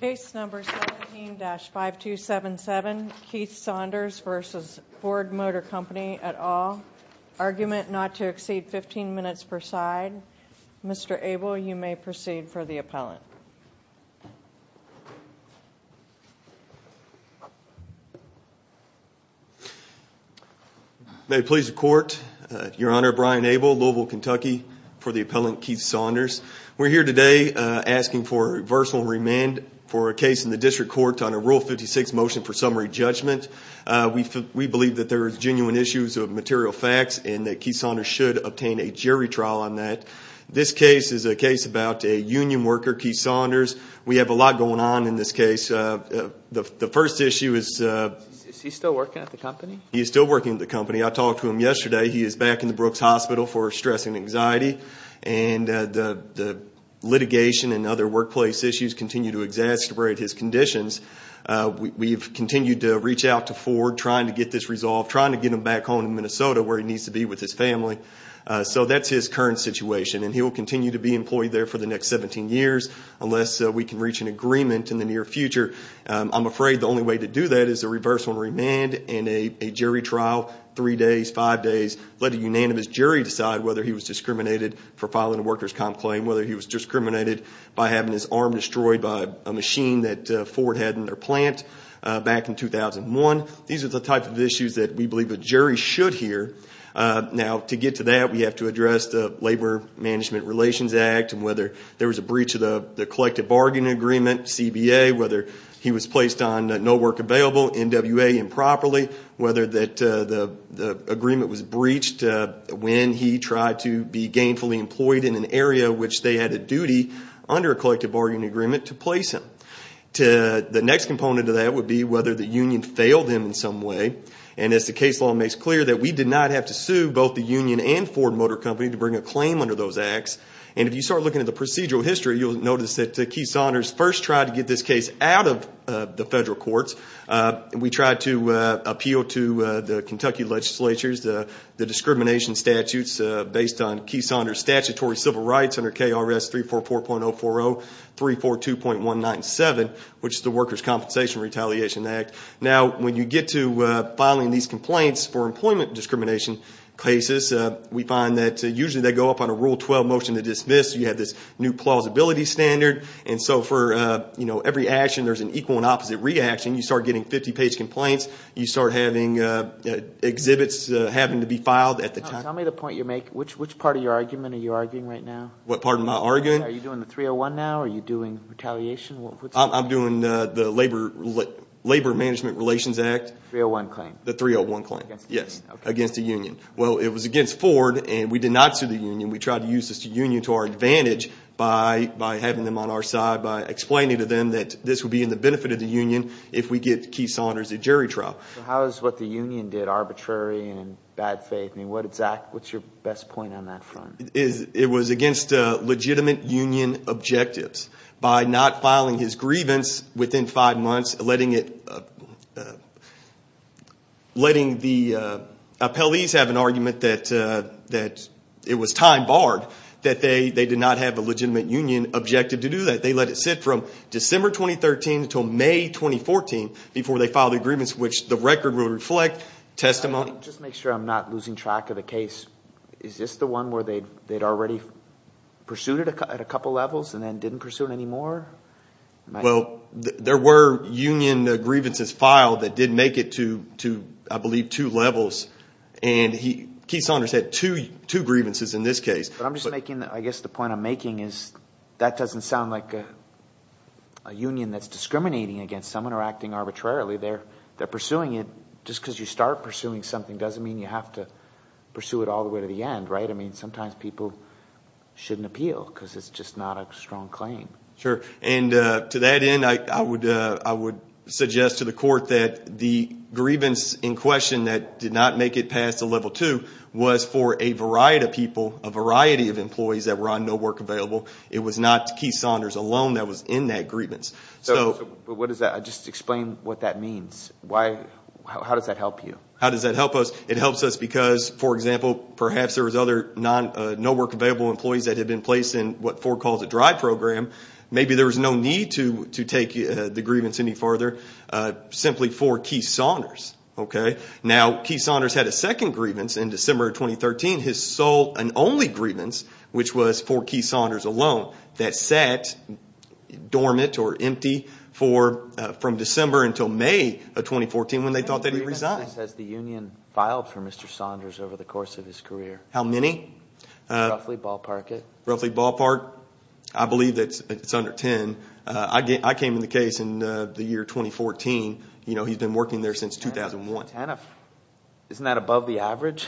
Case number 17-5277, Keith Saunders v. Ford Motor Company, et al. Argument not to exceed 15 minutes per side. Mr. Abel, you may proceed for the appellant. May it please the Court. Your Honor, Brian Abel, Louisville, Kentucky, for the appellant Keith Saunders. We're here today asking for reversal and remand for a case in the District Court on a Rule 56 Motion for Summary Judgment. We believe that there are genuine issues of material facts and that Keith Saunders should obtain a jury trial on that. This case is a case about a union worker, Keith Saunders. We have a lot going on in this case. The first issue is… Is he still working at the company? He is still working at the company. I talked to him yesterday. He is back in the Brooks Hospital for stress and anxiety. And the litigation and other workplace issues continue to exacerbate his conditions. We've continued to reach out to Ford, trying to get this resolved, trying to get him back home in Minnesota where he needs to be with his family. So that's his current situation. And he will continue to be employed there for the next 17 years unless we can reach an agreement in the near future. I'm afraid the only way to do that is a reversal and remand and a jury trial, three days, five days. Let a unanimous jury decide whether he was discriminated for filing a workers' comp claim, whether he was discriminated by having his arm destroyed by a machine that Ford had in their plant back in 2001. These are the types of issues that we believe a jury should hear. Now, to get to that, we have to address the Labor Management Relations Act and whether there was a breach of the collective bargaining agreement, CBA, whether he was placed on no work available, NWA improperly, whether the agreement was breached when he tried to be gainfully employed in an area which they had a duty under a collective bargaining agreement to place him. The next component of that would be whether the union failed him in some way. And as the case law makes clear, that we did not have to sue both the union and Ford Motor Company to bring a claim under those acts. And if you start looking at the procedural history, you'll notice that the key signers first tried to get this case out of the federal courts. We tried to appeal to the Kentucky legislatures the discrimination statutes based on key signers' statutory civil rights under KRS 344.040, 342.197, which is the Workers' Compensation Retaliation Act. Now, when you get to filing these complaints for employment discrimination cases, we find that usually they go up on a Rule 12 motion to dismiss. You have this new plausibility standard. And so for every action, there's an equal and opposite reaction. You start getting 50-page complaints. You start having exhibits having to be filed at the time. Tell me the point you're making. Which part of your argument are you arguing right now? What part of my argument? Are you doing the 301 now? Are you doing retaliation? I'm doing the Labor Management Relations Act. 301 claim. The 301 claim. Against the union. Yes, against the union. Well, it was against Ford, and we did not sue the union. We tried to use this union to our advantage by having them on our side, by explaining to them that this would be in the benefit of the union if we get Keith Saunders a jury trial. So how is what the union did arbitrary and in bad faith? I mean, what's your best point on that front? It was against legitimate union objectives. By not filing his grievance within five months, letting the appellees have an argument that it was time barred, that they did not have a legitimate union objective to do that. They let it sit from December 2013 until May 2014 before they filed the grievance, which the record will reflect testimony. Just to make sure I'm not losing track of the case, is this the one where they'd already pursued it at a couple levels and then didn't pursue it anymore? Well, there were union grievances filed that did make it to, I believe, two levels. And Keith Saunders had two grievances in this case. I'm just making – I guess the point I'm making is that doesn't sound like a union that's discriminating against someone or acting arbitrarily. They're pursuing it. Just because you start pursuing something doesn't mean you have to pursue it all the way to the end, right? I mean, sometimes people shouldn't appeal because it's just not a strong claim. Sure. And to that end, I would suggest to the court that the grievance in question that did not make it past the level two was for a variety of people, a variety of employees that were on no work available. It was not Keith Saunders alone that was in that grievance. So what does that – just explain what that means. How does that help you? How does that help us? It helps us because, for example, perhaps there was other no work available employees that had been placed in what Ford calls a dry program. Maybe there was no need to take the grievance any farther simply for Keith Saunders. Now, Keith Saunders had a second grievance in December of 2013, his sole and only grievance, which was for Keith Saunders alone, that sat dormant or empty from December until May of 2014 when they thought that he resigned. How many grievances has the union filed for Mr. Saunders over the course of his career? How many? Roughly ballpark it. Roughly ballpark? I believe that it's under 10. I came in the case in the year 2014. He's been working there since 2001. Isn't that above the average?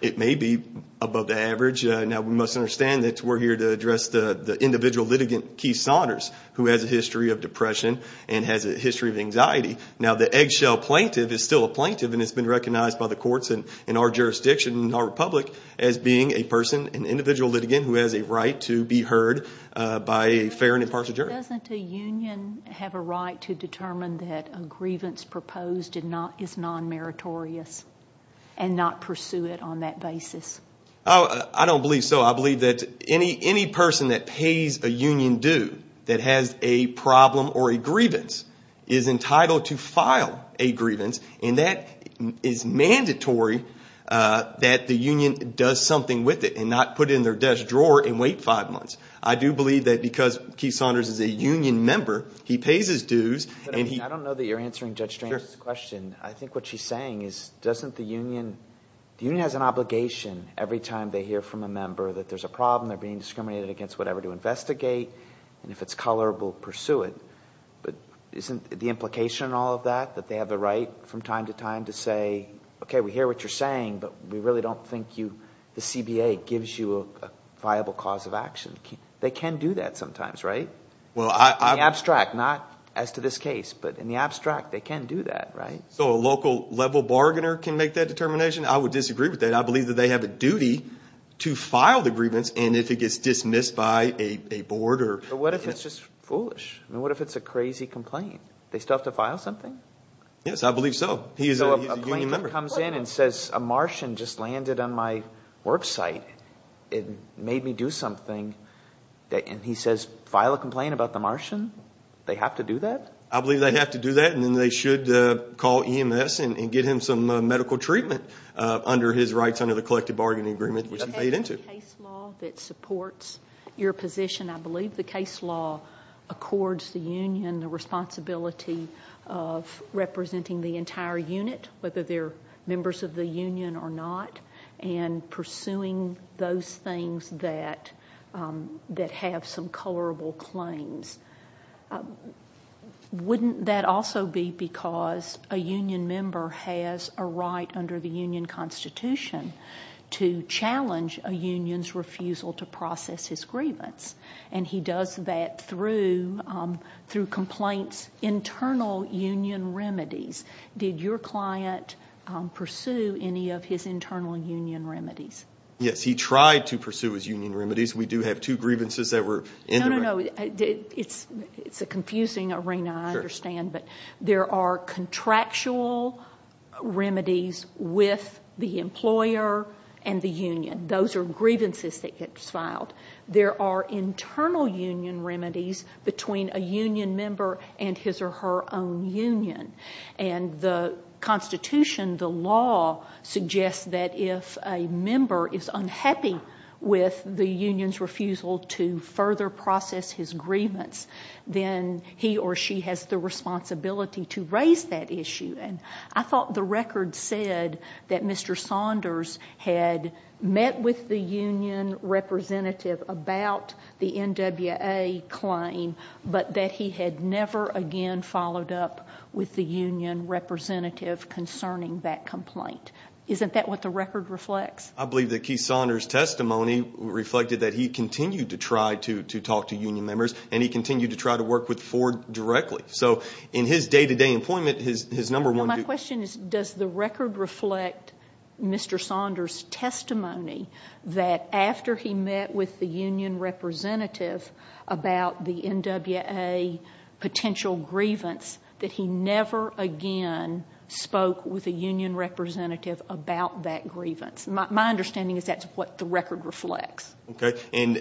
It may be above the average. Now, we must understand that we're here to address the individual litigant, Keith Saunders, who has a history of depression and has a history of anxiety. Now, the eggshell plaintiff is still a plaintiff, and it's been recognized by the courts and our jurisdiction and our republic as being a person, an individual litigant, who has a right to be heard by a fair and impartial jury. Doesn't a union have a right to determine that a grievance proposed is non-meritorious and not pursue it on that basis? I don't believe so. I believe that any person that pays a union due that has a problem or a grievance is entitled to file a grievance, and that is mandatory that the union does something with it and not put it in their desk drawer and wait five months. I do believe that because Keith Saunders is a union member, he pays his dues. I don't know that you're answering Judge Strang's question. I think what she's saying is doesn't the union – the union has an obligation every time they hear from a member that there's a problem, they're being discriminated against, whatever, to investigate, and if it's color, we'll pursue it. But isn't the implication in all of that that they have the right from time to time to say, okay, we hear what you're saying, but we really don't think you – the CBA gives you a viable cause of action? They can do that sometimes, right? In the abstract, not as to this case, but in the abstract, they can do that, right? So a local-level bargainer can make that determination? I would disagree with that. I believe that they have a duty to file the grievance, and if it gets dismissed by a board or – But what if it's just foolish? I mean, what if it's a crazy complaint? They still have to file something? Yes, I believe so. He's a union member. So if a plaintiff comes in and says a Martian just landed on my work site and made me do something, and he says file a complaint about the Martian, they have to do that? I believe they have to do that, and then they should call EMS and get him some medical treatment under his rights under the collective bargaining agreement which he paid into. Is there a case law that supports your position? I believe the case law accords the union the responsibility of representing the entire unit, whether they're members of the union or not, and pursuing those things that have some colorable claims. Wouldn't that also be because a union member has a right under the union constitution to challenge a union's refusal to process his grievance, and he does that through complaints, internal union remedies. Did your client pursue any of his internal union remedies? Yes, he tried to pursue his union remedies. We do have two grievances that were indirect. No, no, no. It's a confusing arena, I understand, but there are contractual remedies with the employer and the union. Those are grievances that get filed. There are internal union remedies between a union member and his or her own union, and the constitution, the law, suggests that if a member is unhappy with the union's refusal to further process his grievance, then he or she has the responsibility to raise that issue. And I thought the record said that Mr. Saunders had met with the union representative about the NWA claim, but that he had never again followed up with the union representative concerning that complaint. Isn't that what the record reflects? I believe that Keith Saunders' testimony reflected that he continued to try to talk to union members, and he continued to try to work with Ford directly. So in his day-to-day employment, his number one duty— No, my question is, does the record reflect Mr. Saunders' testimony that after he met with the union representative about the NWA potential grievance, that he never again spoke with a union representative about that grievance? My understanding is that's what the record reflects. Okay. And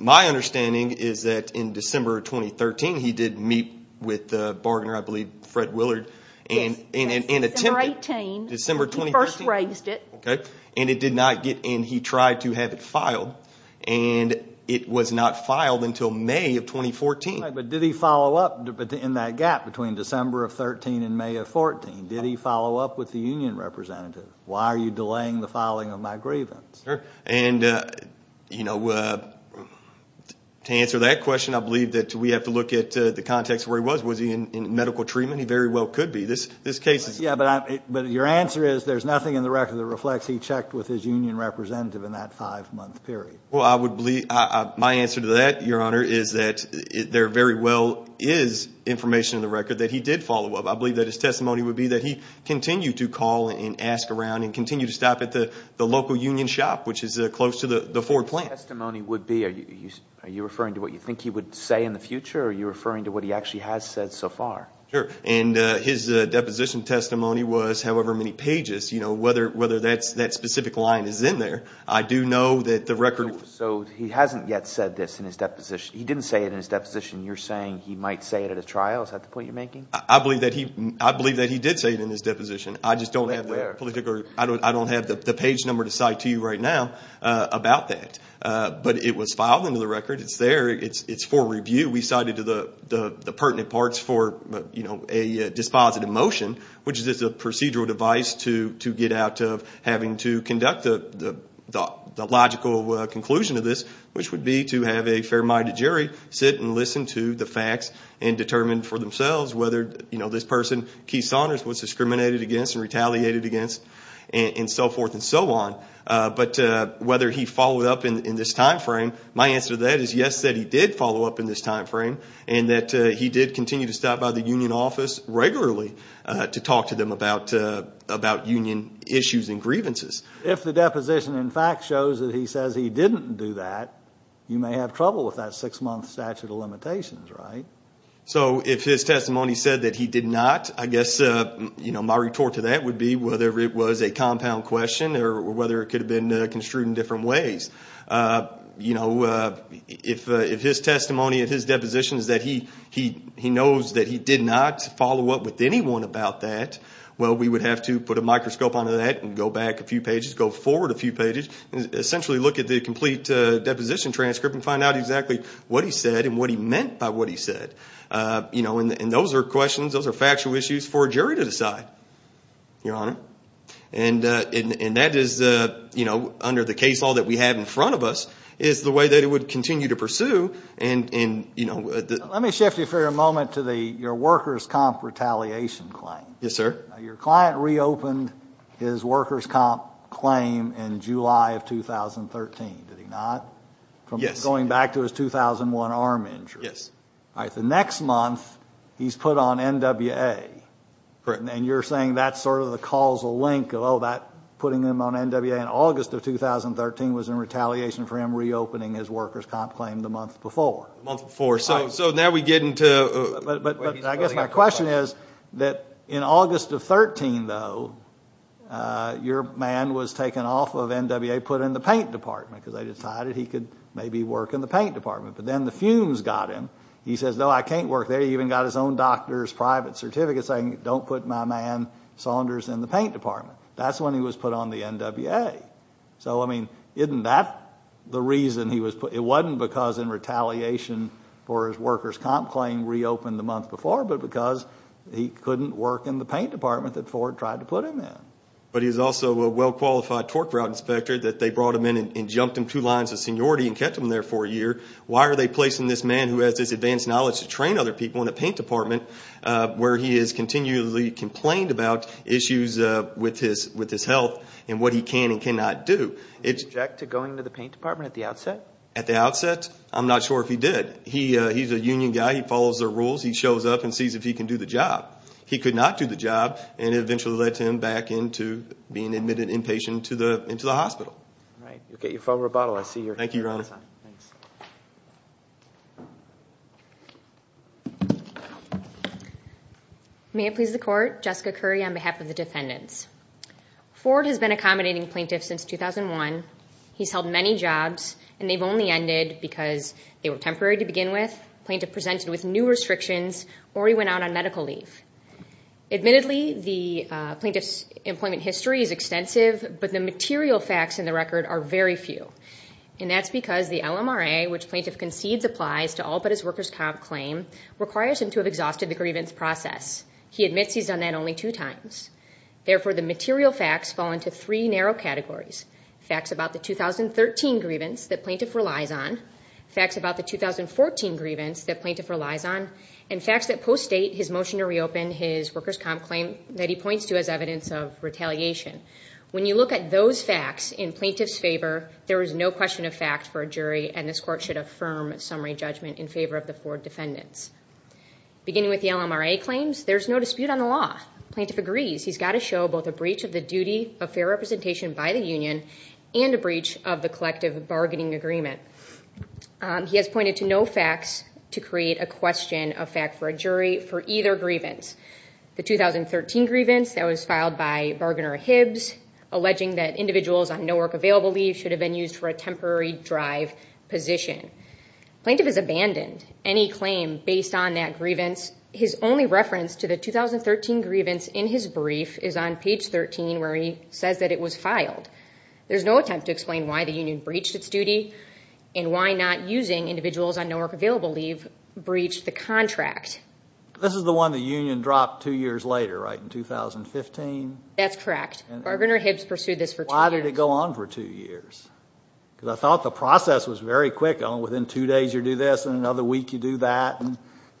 my understanding is that in December of 2013, he did meet with the bargainer, I believe Fred Willard, and attempted— Yes, December 18. December 2013. He first raised it. Okay. And it did not get in. He tried to have it filed, and it was not filed until May of 2014. But did he follow up in that gap between December of 13 and May of 14? Did he follow up with the union representative? Why are you delaying the filing of my grievance? And, you know, to answer that question, I believe that we have to look at the context of where he was. Was he in medical treatment? He very well could be. This case is— Yes, but your answer is there's nothing in the record that reflects he checked with his union representative in that five-month period. Well, I would believe—my answer to that, Your Honor, is that there very well is information in the record that he did follow up. I believe that his testimony would be that he continued to call and ask around and continued to stop at the local union shop, which is close to the Ford plant. His testimony would be—are you referring to what you think he would say in the future, or are you referring to what he actually has said so far? Sure. And his deposition testimony was however many pages, you know, whether that specific line is in there. I do know that the record— So he hasn't yet said this in his deposition. He didn't say it in his deposition. You're saying he might say it at a trial. Is that the point you're making? I believe that he did say it in his deposition. I just don't have the page number to cite to you right now about that. But it was filed into the record. It's there. It's for review. We cited the pertinent parts for a dispositive motion, which is a procedural device to get out of having to conduct the logical conclusion of this, which would be to have a fair-minded jury sit and listen to the facts and determine for themselves whether, you know, this person Keith Saunders was discriminated against and retaliated against and so forth and so on, but whether he followed up in this time frame. My answer to that is yes, that he did follow up in this time frame and that he did continue to stop by the union office regularly to talk to them about union issues and grievances. If the deposition in fact shows that he says he didn't do that, you may have trouble with that six-month statute of limitations, right? So if his testimony said that he did not, I guess, you know, my retort to that would be whether it was a compound question or whether it could have been construed in different ways. You know, if his testimony of his deposition is that he knows that he did not follow up with anyone about that, well, we would have to put a microscope onto that and go back a few pages, go forward a few pages and essentially look at the complete deposition transcript and find out exactly what he said and what he meant by what he said. You know, and those are questions, those are factual issues for a jury to decide, Your Honor. And that is, you know, under the case law that we have in front of us is the way that it would continue to pursue. Let me shift you for a moment to your workers' comp retaliation claim. Yes, sir. Now, your client reopened his workers' comp claim in July of 2013, did he not? Yes. Going back to his 2001 arm injury. Yes. All right. The next month he's put on NWA. Correct. And you're saying that's sort of the causal link of, oh, that putting him on NWA in August of 2013 was in retaliation for him reopening his workers' comp claim the month before. The month before. So now we get into – But I guess my question is that in August of 2013, though, your man was taken off of NWA, put in the paint department, because they decided he could maybe work in the paint department. But then the fumes got him. He says, no, I can't work there. He even got his own doctor's private certificate saying, don't put my man Saunders in the paint department. That's when he was put on the NWA. So, I mean, isn't that the reason he was put – It wasn't because in retaliation for his workers' comp claim reopened the month before, but because he couldn't work in the paint department that Ford tried to put him in. But he's also a well-qualified torque route inspector that they brought him in and jumped him two lines of seniority and kept him there for a year. Why are they placing this man who has this advanced knowledge to train other people in a paint department where he is continually complained about issues with his health and what he can and cannot do? Did he object to going to the paint department at the outset? At the outset, I'm not sure if he did. He's a union guy. He follows the rules. He shows up and sees if he can do the job. He could not do the job, and it eventually led to him back into being admitted inpatient into the hospital. All right. You'll get your phone rebuttal. Thank you, Your Honor. May it please the Court. Jessica Curry on behalf of the defendants. Ford has been accommodating plaintiffs since 2001. He's held many jobs, and they've only ended because they were temporary to begin with, the plaintiff presented with new restrictions, or he went out on medical leave. Admittedly, the plaintiff's employment history is extensive, but the material facts in the record are very few, and that's because the LMRA, which plaintiff concedes applies to all but his workers' comp claim, requires him to have exhausted the grievance process. He admits he's done that only two times. Therefore, the material facts fall into three narrow categories, facts about the 2013 grievance that plaintiff relies on, facts about the 2014 grievance that plaintiff relies on, and facts that postdate his motion to reopen his workers' comp claim that he points to as evidence of retaliation. When you look at those facts in plaintiff's favor, there is no question of fact for a jury, and this Court should affirm summary judgment in favor of the Ford defendants. Beginning with the LMRA claims, there's no dispute on the law. Plaintiff agrees he's got to show both a breach of the duty of fair representation by the union and a breach of the collective bargaining agreement. He has pointed to no facts to create a question of fact for a jury for either grievance. The 2013 grievance that was filed by bargainer Hibbs, alleging that individuals on no work available leave should have been used for a temporary drive position. Plaintiff has abandoned any claim based on that grievance. His only reference to the 2013 grievance in his brief is on page 13 where he says that it was filed. There's no attempt to explain why the union breached its duty and why not using individuals on no work available leave breached the contract. This is the one the union dropped two years later, right, in 2015? That's correct. Bargainer Hibbs pursued this for two years. Why did it go on for two years? Because I thought the process was very quick. Within two days you do this and another week you do that.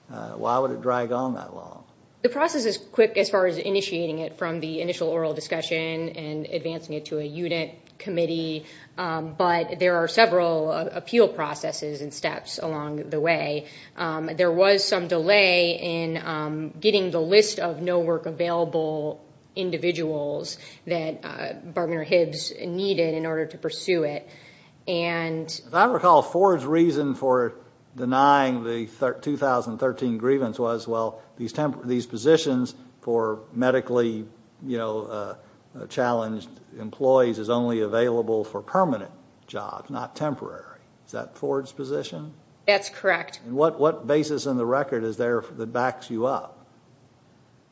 Why would it drag on that long? The process is quick as far as initiating it from the initial oral discussion and advancing it to a unit committee, but there are several appeal processes and steps along the way. There was some delay in getting the list of no work available individuals that bargainer Hibbs needed in order to pursue it. If I recall, Ford's reason for denying the 2013 grievance was, well, these positions for medically challenged employees is only available for permanent jobs, not temporary. Is that Ford's position? That's correct. What basis in the record is there that backs you up?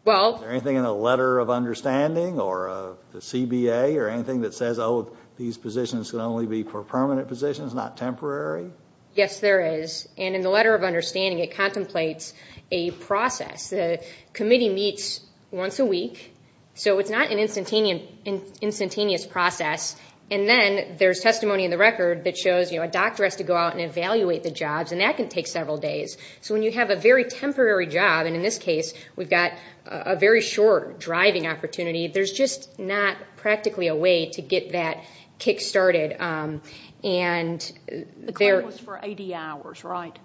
Is there anything in the letter of understanding or the CBA or anything that says, oh, these positions can only be for permanent positions, not temporary? Yes, there is, and in the letter of understanding it contemplates a process. The committee meets once a week, so it's not an instantaneous process, and then there's testimony in the record that shows a doctor has to go out and evaluate the jobs, and that can take several days. So when you have a very temporary job, and in this case we've got a very short driving opportunity, there's just not practically a way to get that kick-started. The claim was for 80 hours, right?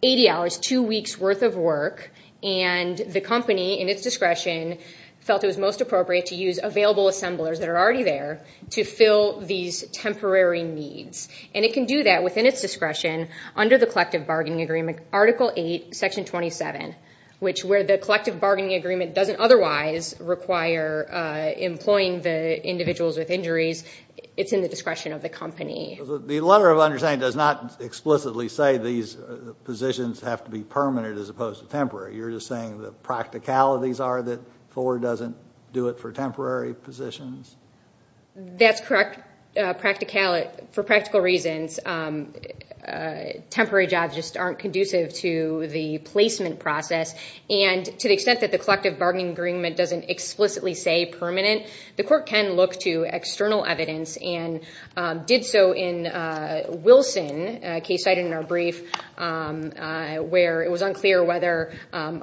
Eighty hours, two weeks' worth of work, and the company in its discretion felt it was most appropriate to use available assemblers that are already there to fill these temporary needs. And it can do that within its discretion under the collective bargaining agreement, Article 8, Section 27, which where the collective bargaining agreement doesn't otherwise require employing the individuals with injuries, it's in the discretion of the company. The letter of understanding does not explicitly say these positions have to be permanent as opposed to temporary. You're just saying the practicalities are that Ford doesn't do it for temporary positions? That's correct, for practical reasons. Temporary jobs just aren't conducive to the placement process, and to the extent that the collective bargaining agreement doesn't explicitly say permanent, the court can look to external evidence and did so in Wilson, a case cited in our brief, where it was unclear whether an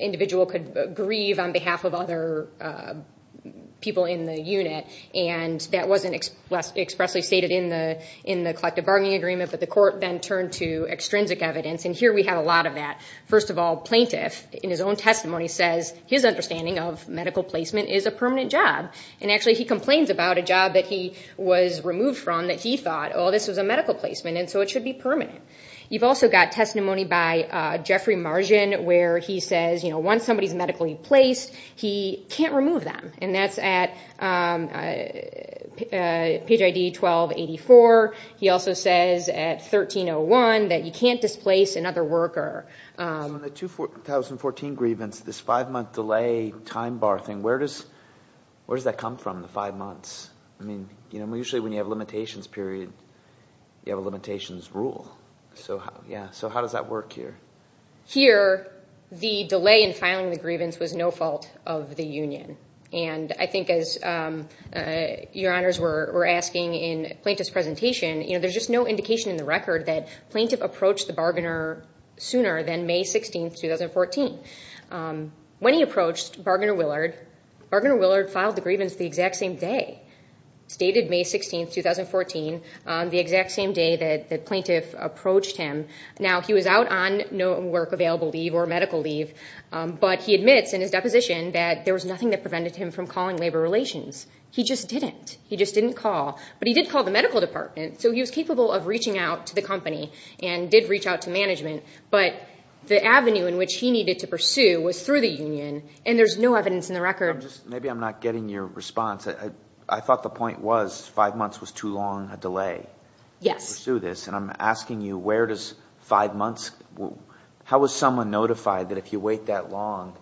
individual could grieve on behalf of other people in the unit, and that wasn't expressly stated in the collective bargaining agreement, but the court then turned to extrinsic evidence, and here we have a lot of that. First of all, Plaintiff, in his own testimony, says his understanding of medical placement is a permanent job, and actually he complains about a job that he was removed from that he thought, oh, this was a medical placement, and so it should be permanent. You've also got testimony by Jeffrey Margin where he says once somebody's medically placed, he can't remove them, and that's at page ID 1284. He also says at 1301 that you can't displace another worker. In the 2014 grievance, this five-month delay time bar thing, where does that come from, the five months? Usually when you have a limitations period, you have a limitations rule, so how does that work here? Here, the delay in filing the grievance was no fault of the union, and I think as your honors were asking in Plaintiff's presentation, there's just no indication in the record that Plaintiff approached the bargainer sooner than May 16, 2014. When he approached Bargainer Willard, Bargainer Willard filed the grievance the exact same day, stated May 16, 2014, the exact same day that Plaintiff approached him. Now, he was out on no work available leave or medical leave, but he admits in his deposition that there was nothing that prevented him from calling Labor Relations. He just didn't. He just didn't call, but he did call the medical department, so he was capable of reaching out to the company and did reach out to management, but the avenue in which he needed to pursue was through the union, and there's no evidence in the record. Maybe I'm not getting your response. I thought the point was five months was too long a delay to pursue this, and I'm asking you where does five months go? How was someone notified that if you wait that long,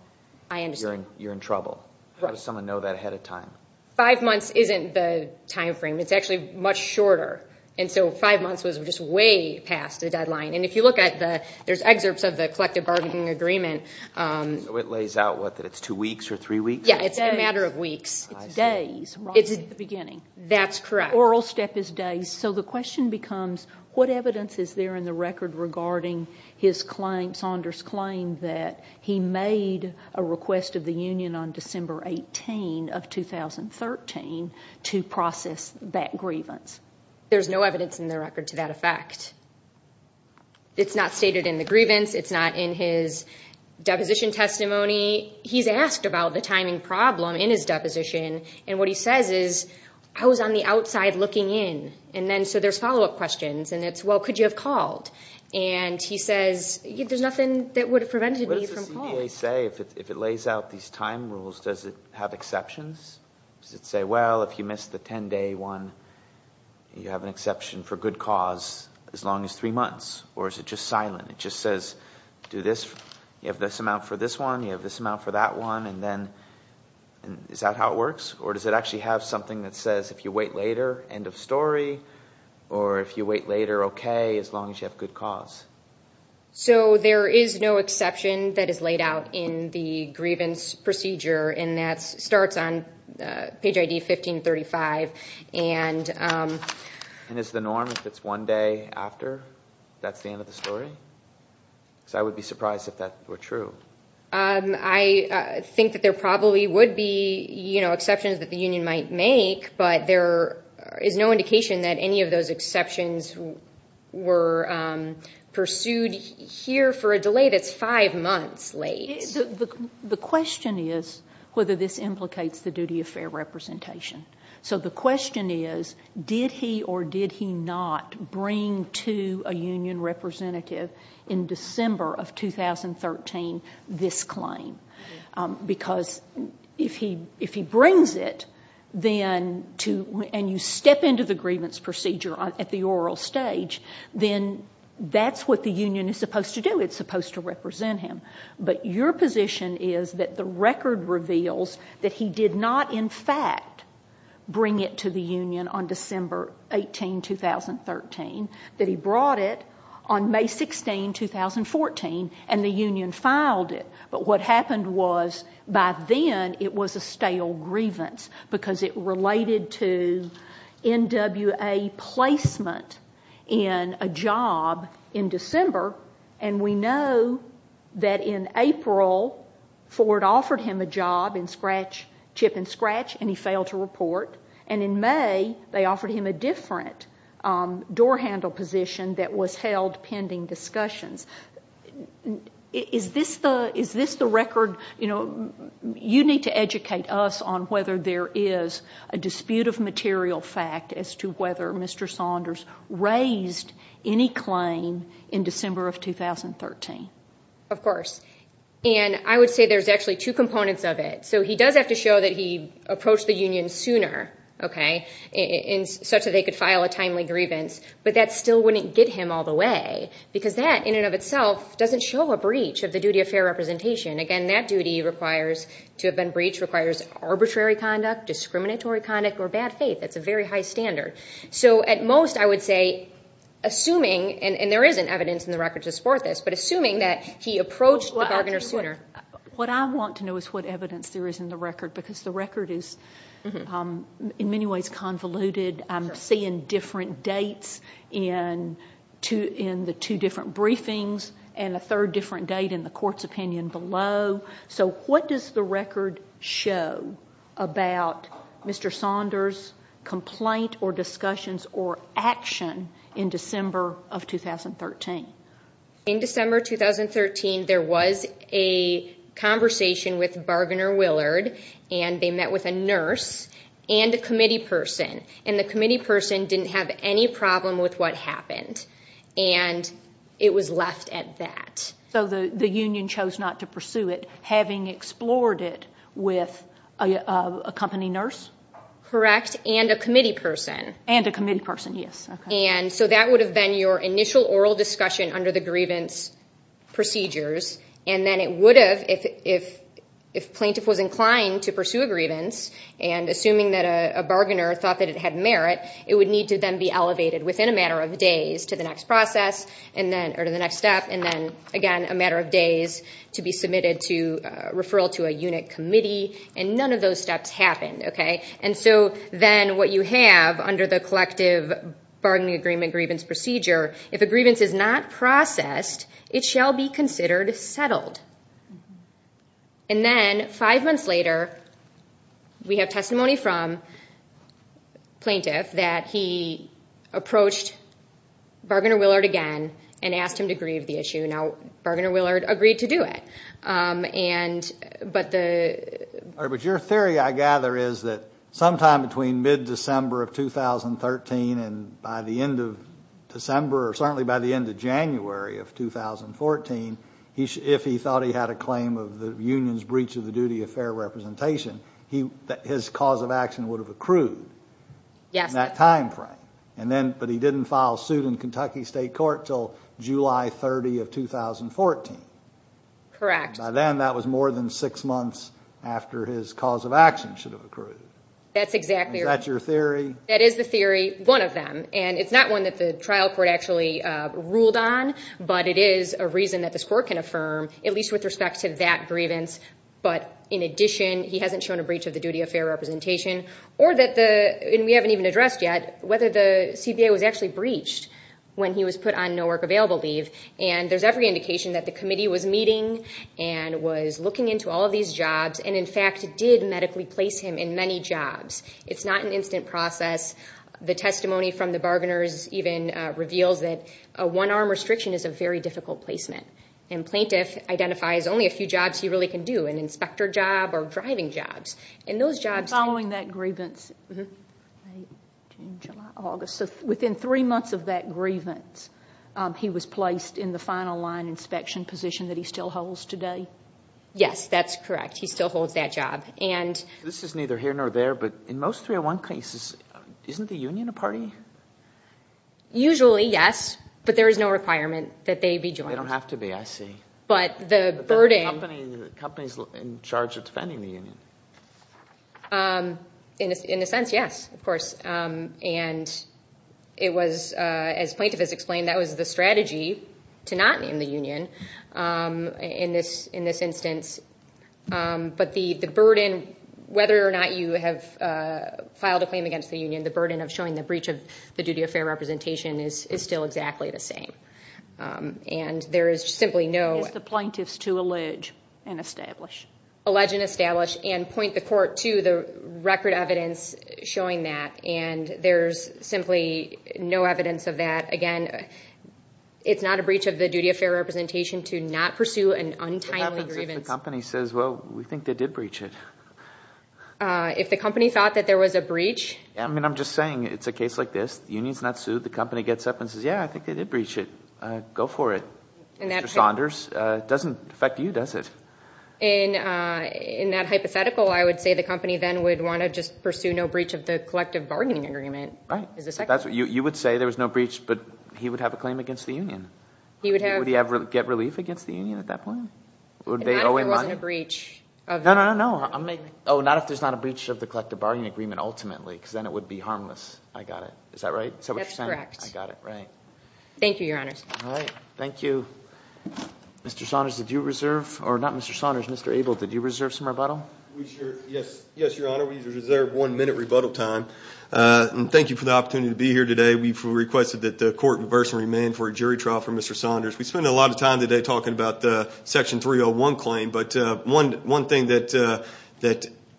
you're in trouble? How does someone know that ahead of time? Five months isn't the time frame. It's actually much shorter, and so five months was just way past the deadline, and if you look at there's excerpts of the collective bargaining agreement. So it lays out what, that it's two weeks or three weeks? Yeah, it's a matter of weeks. It's days right at the beginning. That's correct. Oral step is days. So the question becomes what evidence is there in the record regarding his claim, Saunders' claim that he made a request of the union on December 18 of 2013 to process that grievance? There's no evidence in the record to that effect. It's not stated in the grievance. It's not in his deposition testimony. He's asked about the timing problem in his deposition, and what he says is, I was on the outside looking in, and then so there's follow-up questions, and it's, well, could you have called? And he says, there's nothing that would have prevented me from calling. What does the CDA say if it lays out these time rules? Does it have exceptions? Does it say, well, if you missed the 10-day one, you have an exception for good cause as long as three months, or is it just silent? It just says, do this, you have this amount for this one, you have this amount for that one, and then is that how it works? Or does it actually have something that says, if you wait later, end of story, or if you wait later, okay, as long as you have good cause? So there is no exception that is laid out in the grievance procedure, and that starts on page ID 1535. And is the norm if it's one day after that's the end of the story? Because I would be surprised if that were true. I think that there probably would be exceptions that the union might make, but there is no indication that any of those exceptions were pursued here for a delay that's five months late. The question is whether this implicates the duty of fair representation. So the question is, did he or did he not bring to a union representative in December of 2013 this claim? Because if he brings it and you step into the grievance procedure at the oral stage, then that's what the union is supposed to do. It's supposed to represent him. But your position is that the record reveals that he did not, in fact, bring it to the union on December 18, 2013, that he brought it on May 16, 2014, and the union filed it. But what happened was, by then, it was a stale grievance, because it related to NWA placement in a job in December, and we know that in April, Ford offered him a job in chip and scratch, and he failed to report. And in May, they offered him a different door handle position that was held pending discussions. Is this the record? You need to educate us on whether there is a dispute of material fact as to whether Mr. Saunders raised any claim in December of 2013. Of course. And I would say there's actually two components of it. So he does have to show that he approached the union sooner, okay, such that they could file a timely grievance, but that still wouldn't get him all the way, because that, in and of itself, doesn't show a breach of the duty of fair representation. Again, that duty requires, to have been breached, requires arbitrary conduct, discriminatory conduct, or bad faith. That's a very high standard. So at most, I would say, assuming, and there isn't evidence in the record to support this, but assuming that he approached the bargainer sooner. What I want to know is what evidence there is in the record, because the record is in many ways convoluted. I'm seeing different dates in the two different briefings and a third different date in the court's opinion below. So what does the record show about Mr. Saunders' complaint or discussions or action in December of 2013? In December 2013, there was a conversation with Bargainer Willard, and they met with a nurse and a committee person, and the committee person didn't have any problem with what happened, and it was left at that. So the union chose not to pursue it, having explored it with a company nurse? Correct, and a committee person. And a committee person, yes. And so that would have been your initial oral discussion under the grievance procedures, and then it would have, if plaintiff was inclined to pursue a grievance, and assuming that a bargainer thought that it had merit, it would need to then be elevated within a matter of days to the next process or to the next step, and then, again, a matter of days to be submitted to referral to a unit committee, and none of those steps happened. And so then what you have under the collective bargaining agreement grievance procedure, if a grievance is not processed, it shall be considered settled. And then five months later, we have testimony from plaintiff that he approached Bargainer Willard again and asked him to grieve the issue. Now, Bargainer Willard agreed to do it. But your theory, I gather, is that sometime between mid-December of 2013 and by the end of December or certainly by the end of January of 2014, if he thought he had a claim of the union's breach of the duty of fair representation, his cause of action would have accrued in that time frame, but he didn't file suit in Kentucky State Court until July 30 of 2014. Correct. By then, that was more than six months after his cause of action should have accrued. That's exactly right. Is that your theory? That is the theory, one of them, and it's not one that the trial court actually ruled on, but it is a reason that this court can affirm, at least with respect to that grievance. But in addition, he hasn't shown a breach of the duty of fair representation, and we haven't even addressed yet whether the CBA was actually breached when he was put on no work available leave. And there's every indication that the committee was meeting and was looking into all of these jobs and, in fact, did medically place him in many jobs. It's not an instant process. The testimony from the bargainers even reveals that a one-arm restriction is a very difficult placement, and plaintiff identifies only a few jobs he really can do, an inspector job or driving jobs, and those jobs... And following that grievance, June, July, August, so within three months of that grievance, he was placed in the final line inspection position that he still holds today? Yes, that's correct. He still holds that job. This is neither here nor there, but in most 301 cases, isn't the union a party? Usually, yes, but there is no requirement that they be joined. They don't have to be, I see. But the burden... The company is in charge of defending the union. In a sense, yes, of course. And it was, as plaintiff has explained, that was the strategy to not name the union in this instance. But the burden, whether or not you have filed a claim against the union, the burden of showing the breach of the duty of fair representation is still exactly the same. And there is simply no... It's the plaintiffs to allege and establish. Allege and establish and point the court to the record evidence showing that, and there's simply no evidence of that. Again, it's not a breach of the duty of fair representation to not pursue an untimely grievance. What happens if the company says, well, we think they did breach it? If the company thought that there was a breach... I mean, I'm just saying it's a case like this. The union's not sued. The company gets up and says, yeah, I think they did breach it. Go for it. Mr. Saunders, it doesn't affect you, does it? In that hypothetical, I would say the company then would want to just pursue no breach of the collective bargaining agreement. Right. You would say there was no breach, but he would have a claim against the union. Would he ever get relief against the union at that point? Not if there wasn't a breach. No, no, no. Oh, not if there's not a breach of the collective bargaining agreement ultimately because then it would be harmless. I got it. Is that right? Is that what you're saying? That's correct. I got it. Right. Thank you, Your Honors. All right. Thank you. Mr. Saunders, did you reserve, or not Mr. Saunders, Mr. Abel, did you reserve some rebuttal? Yes, Your Honor, we reserved one minute rebuttal time. And thank you for the opportunity to be here today. We requested that the court reverse and remand for a jury trial for Mr. Saunders. We spent a lot of time today talking about the Section 301 claim. But one thing that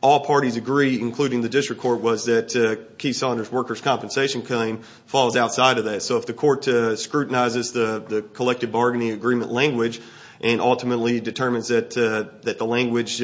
all parties agree, including the district court, was that Keith Saunders' workers' compensation claim falls outside of that. So if the court scrutinizes the collective bargaining agreement language and ultimately determines that the language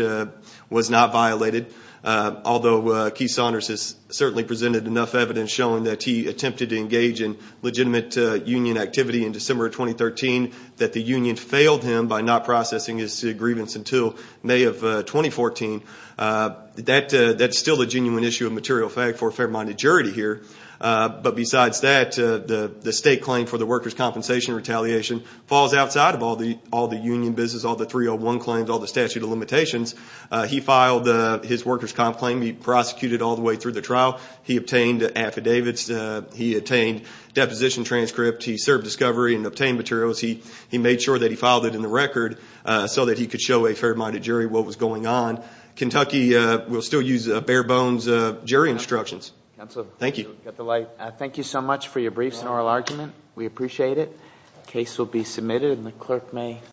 was not violated, although Keith Saunders has certainly presented enough evidence showing that he attempted to engage in legitimate union activity in December of 2013, that the union failed him by not processing his grievance until May of 2014, that's still a genuine issue of material fact for a fair-minded jury to hear. But besides that, the state claim for the workers' compensation retaliation falls outside of all the union business, all the 301 claims, all the statute of limitations. He filed his workers' comp claim. He prosecuted all the way through the trial. He obtained affidavits. He obtained deposition transcripts. He served discovery and obtained materials. He made sure that he filed it in the record so that he could show a fair-minded jury what was going on. Kentucky will still use bare-bones jury instructions. Thank you. Thank you so much for your brief oral argument. We appreciate it. The case will be submitted, and the clerk may close.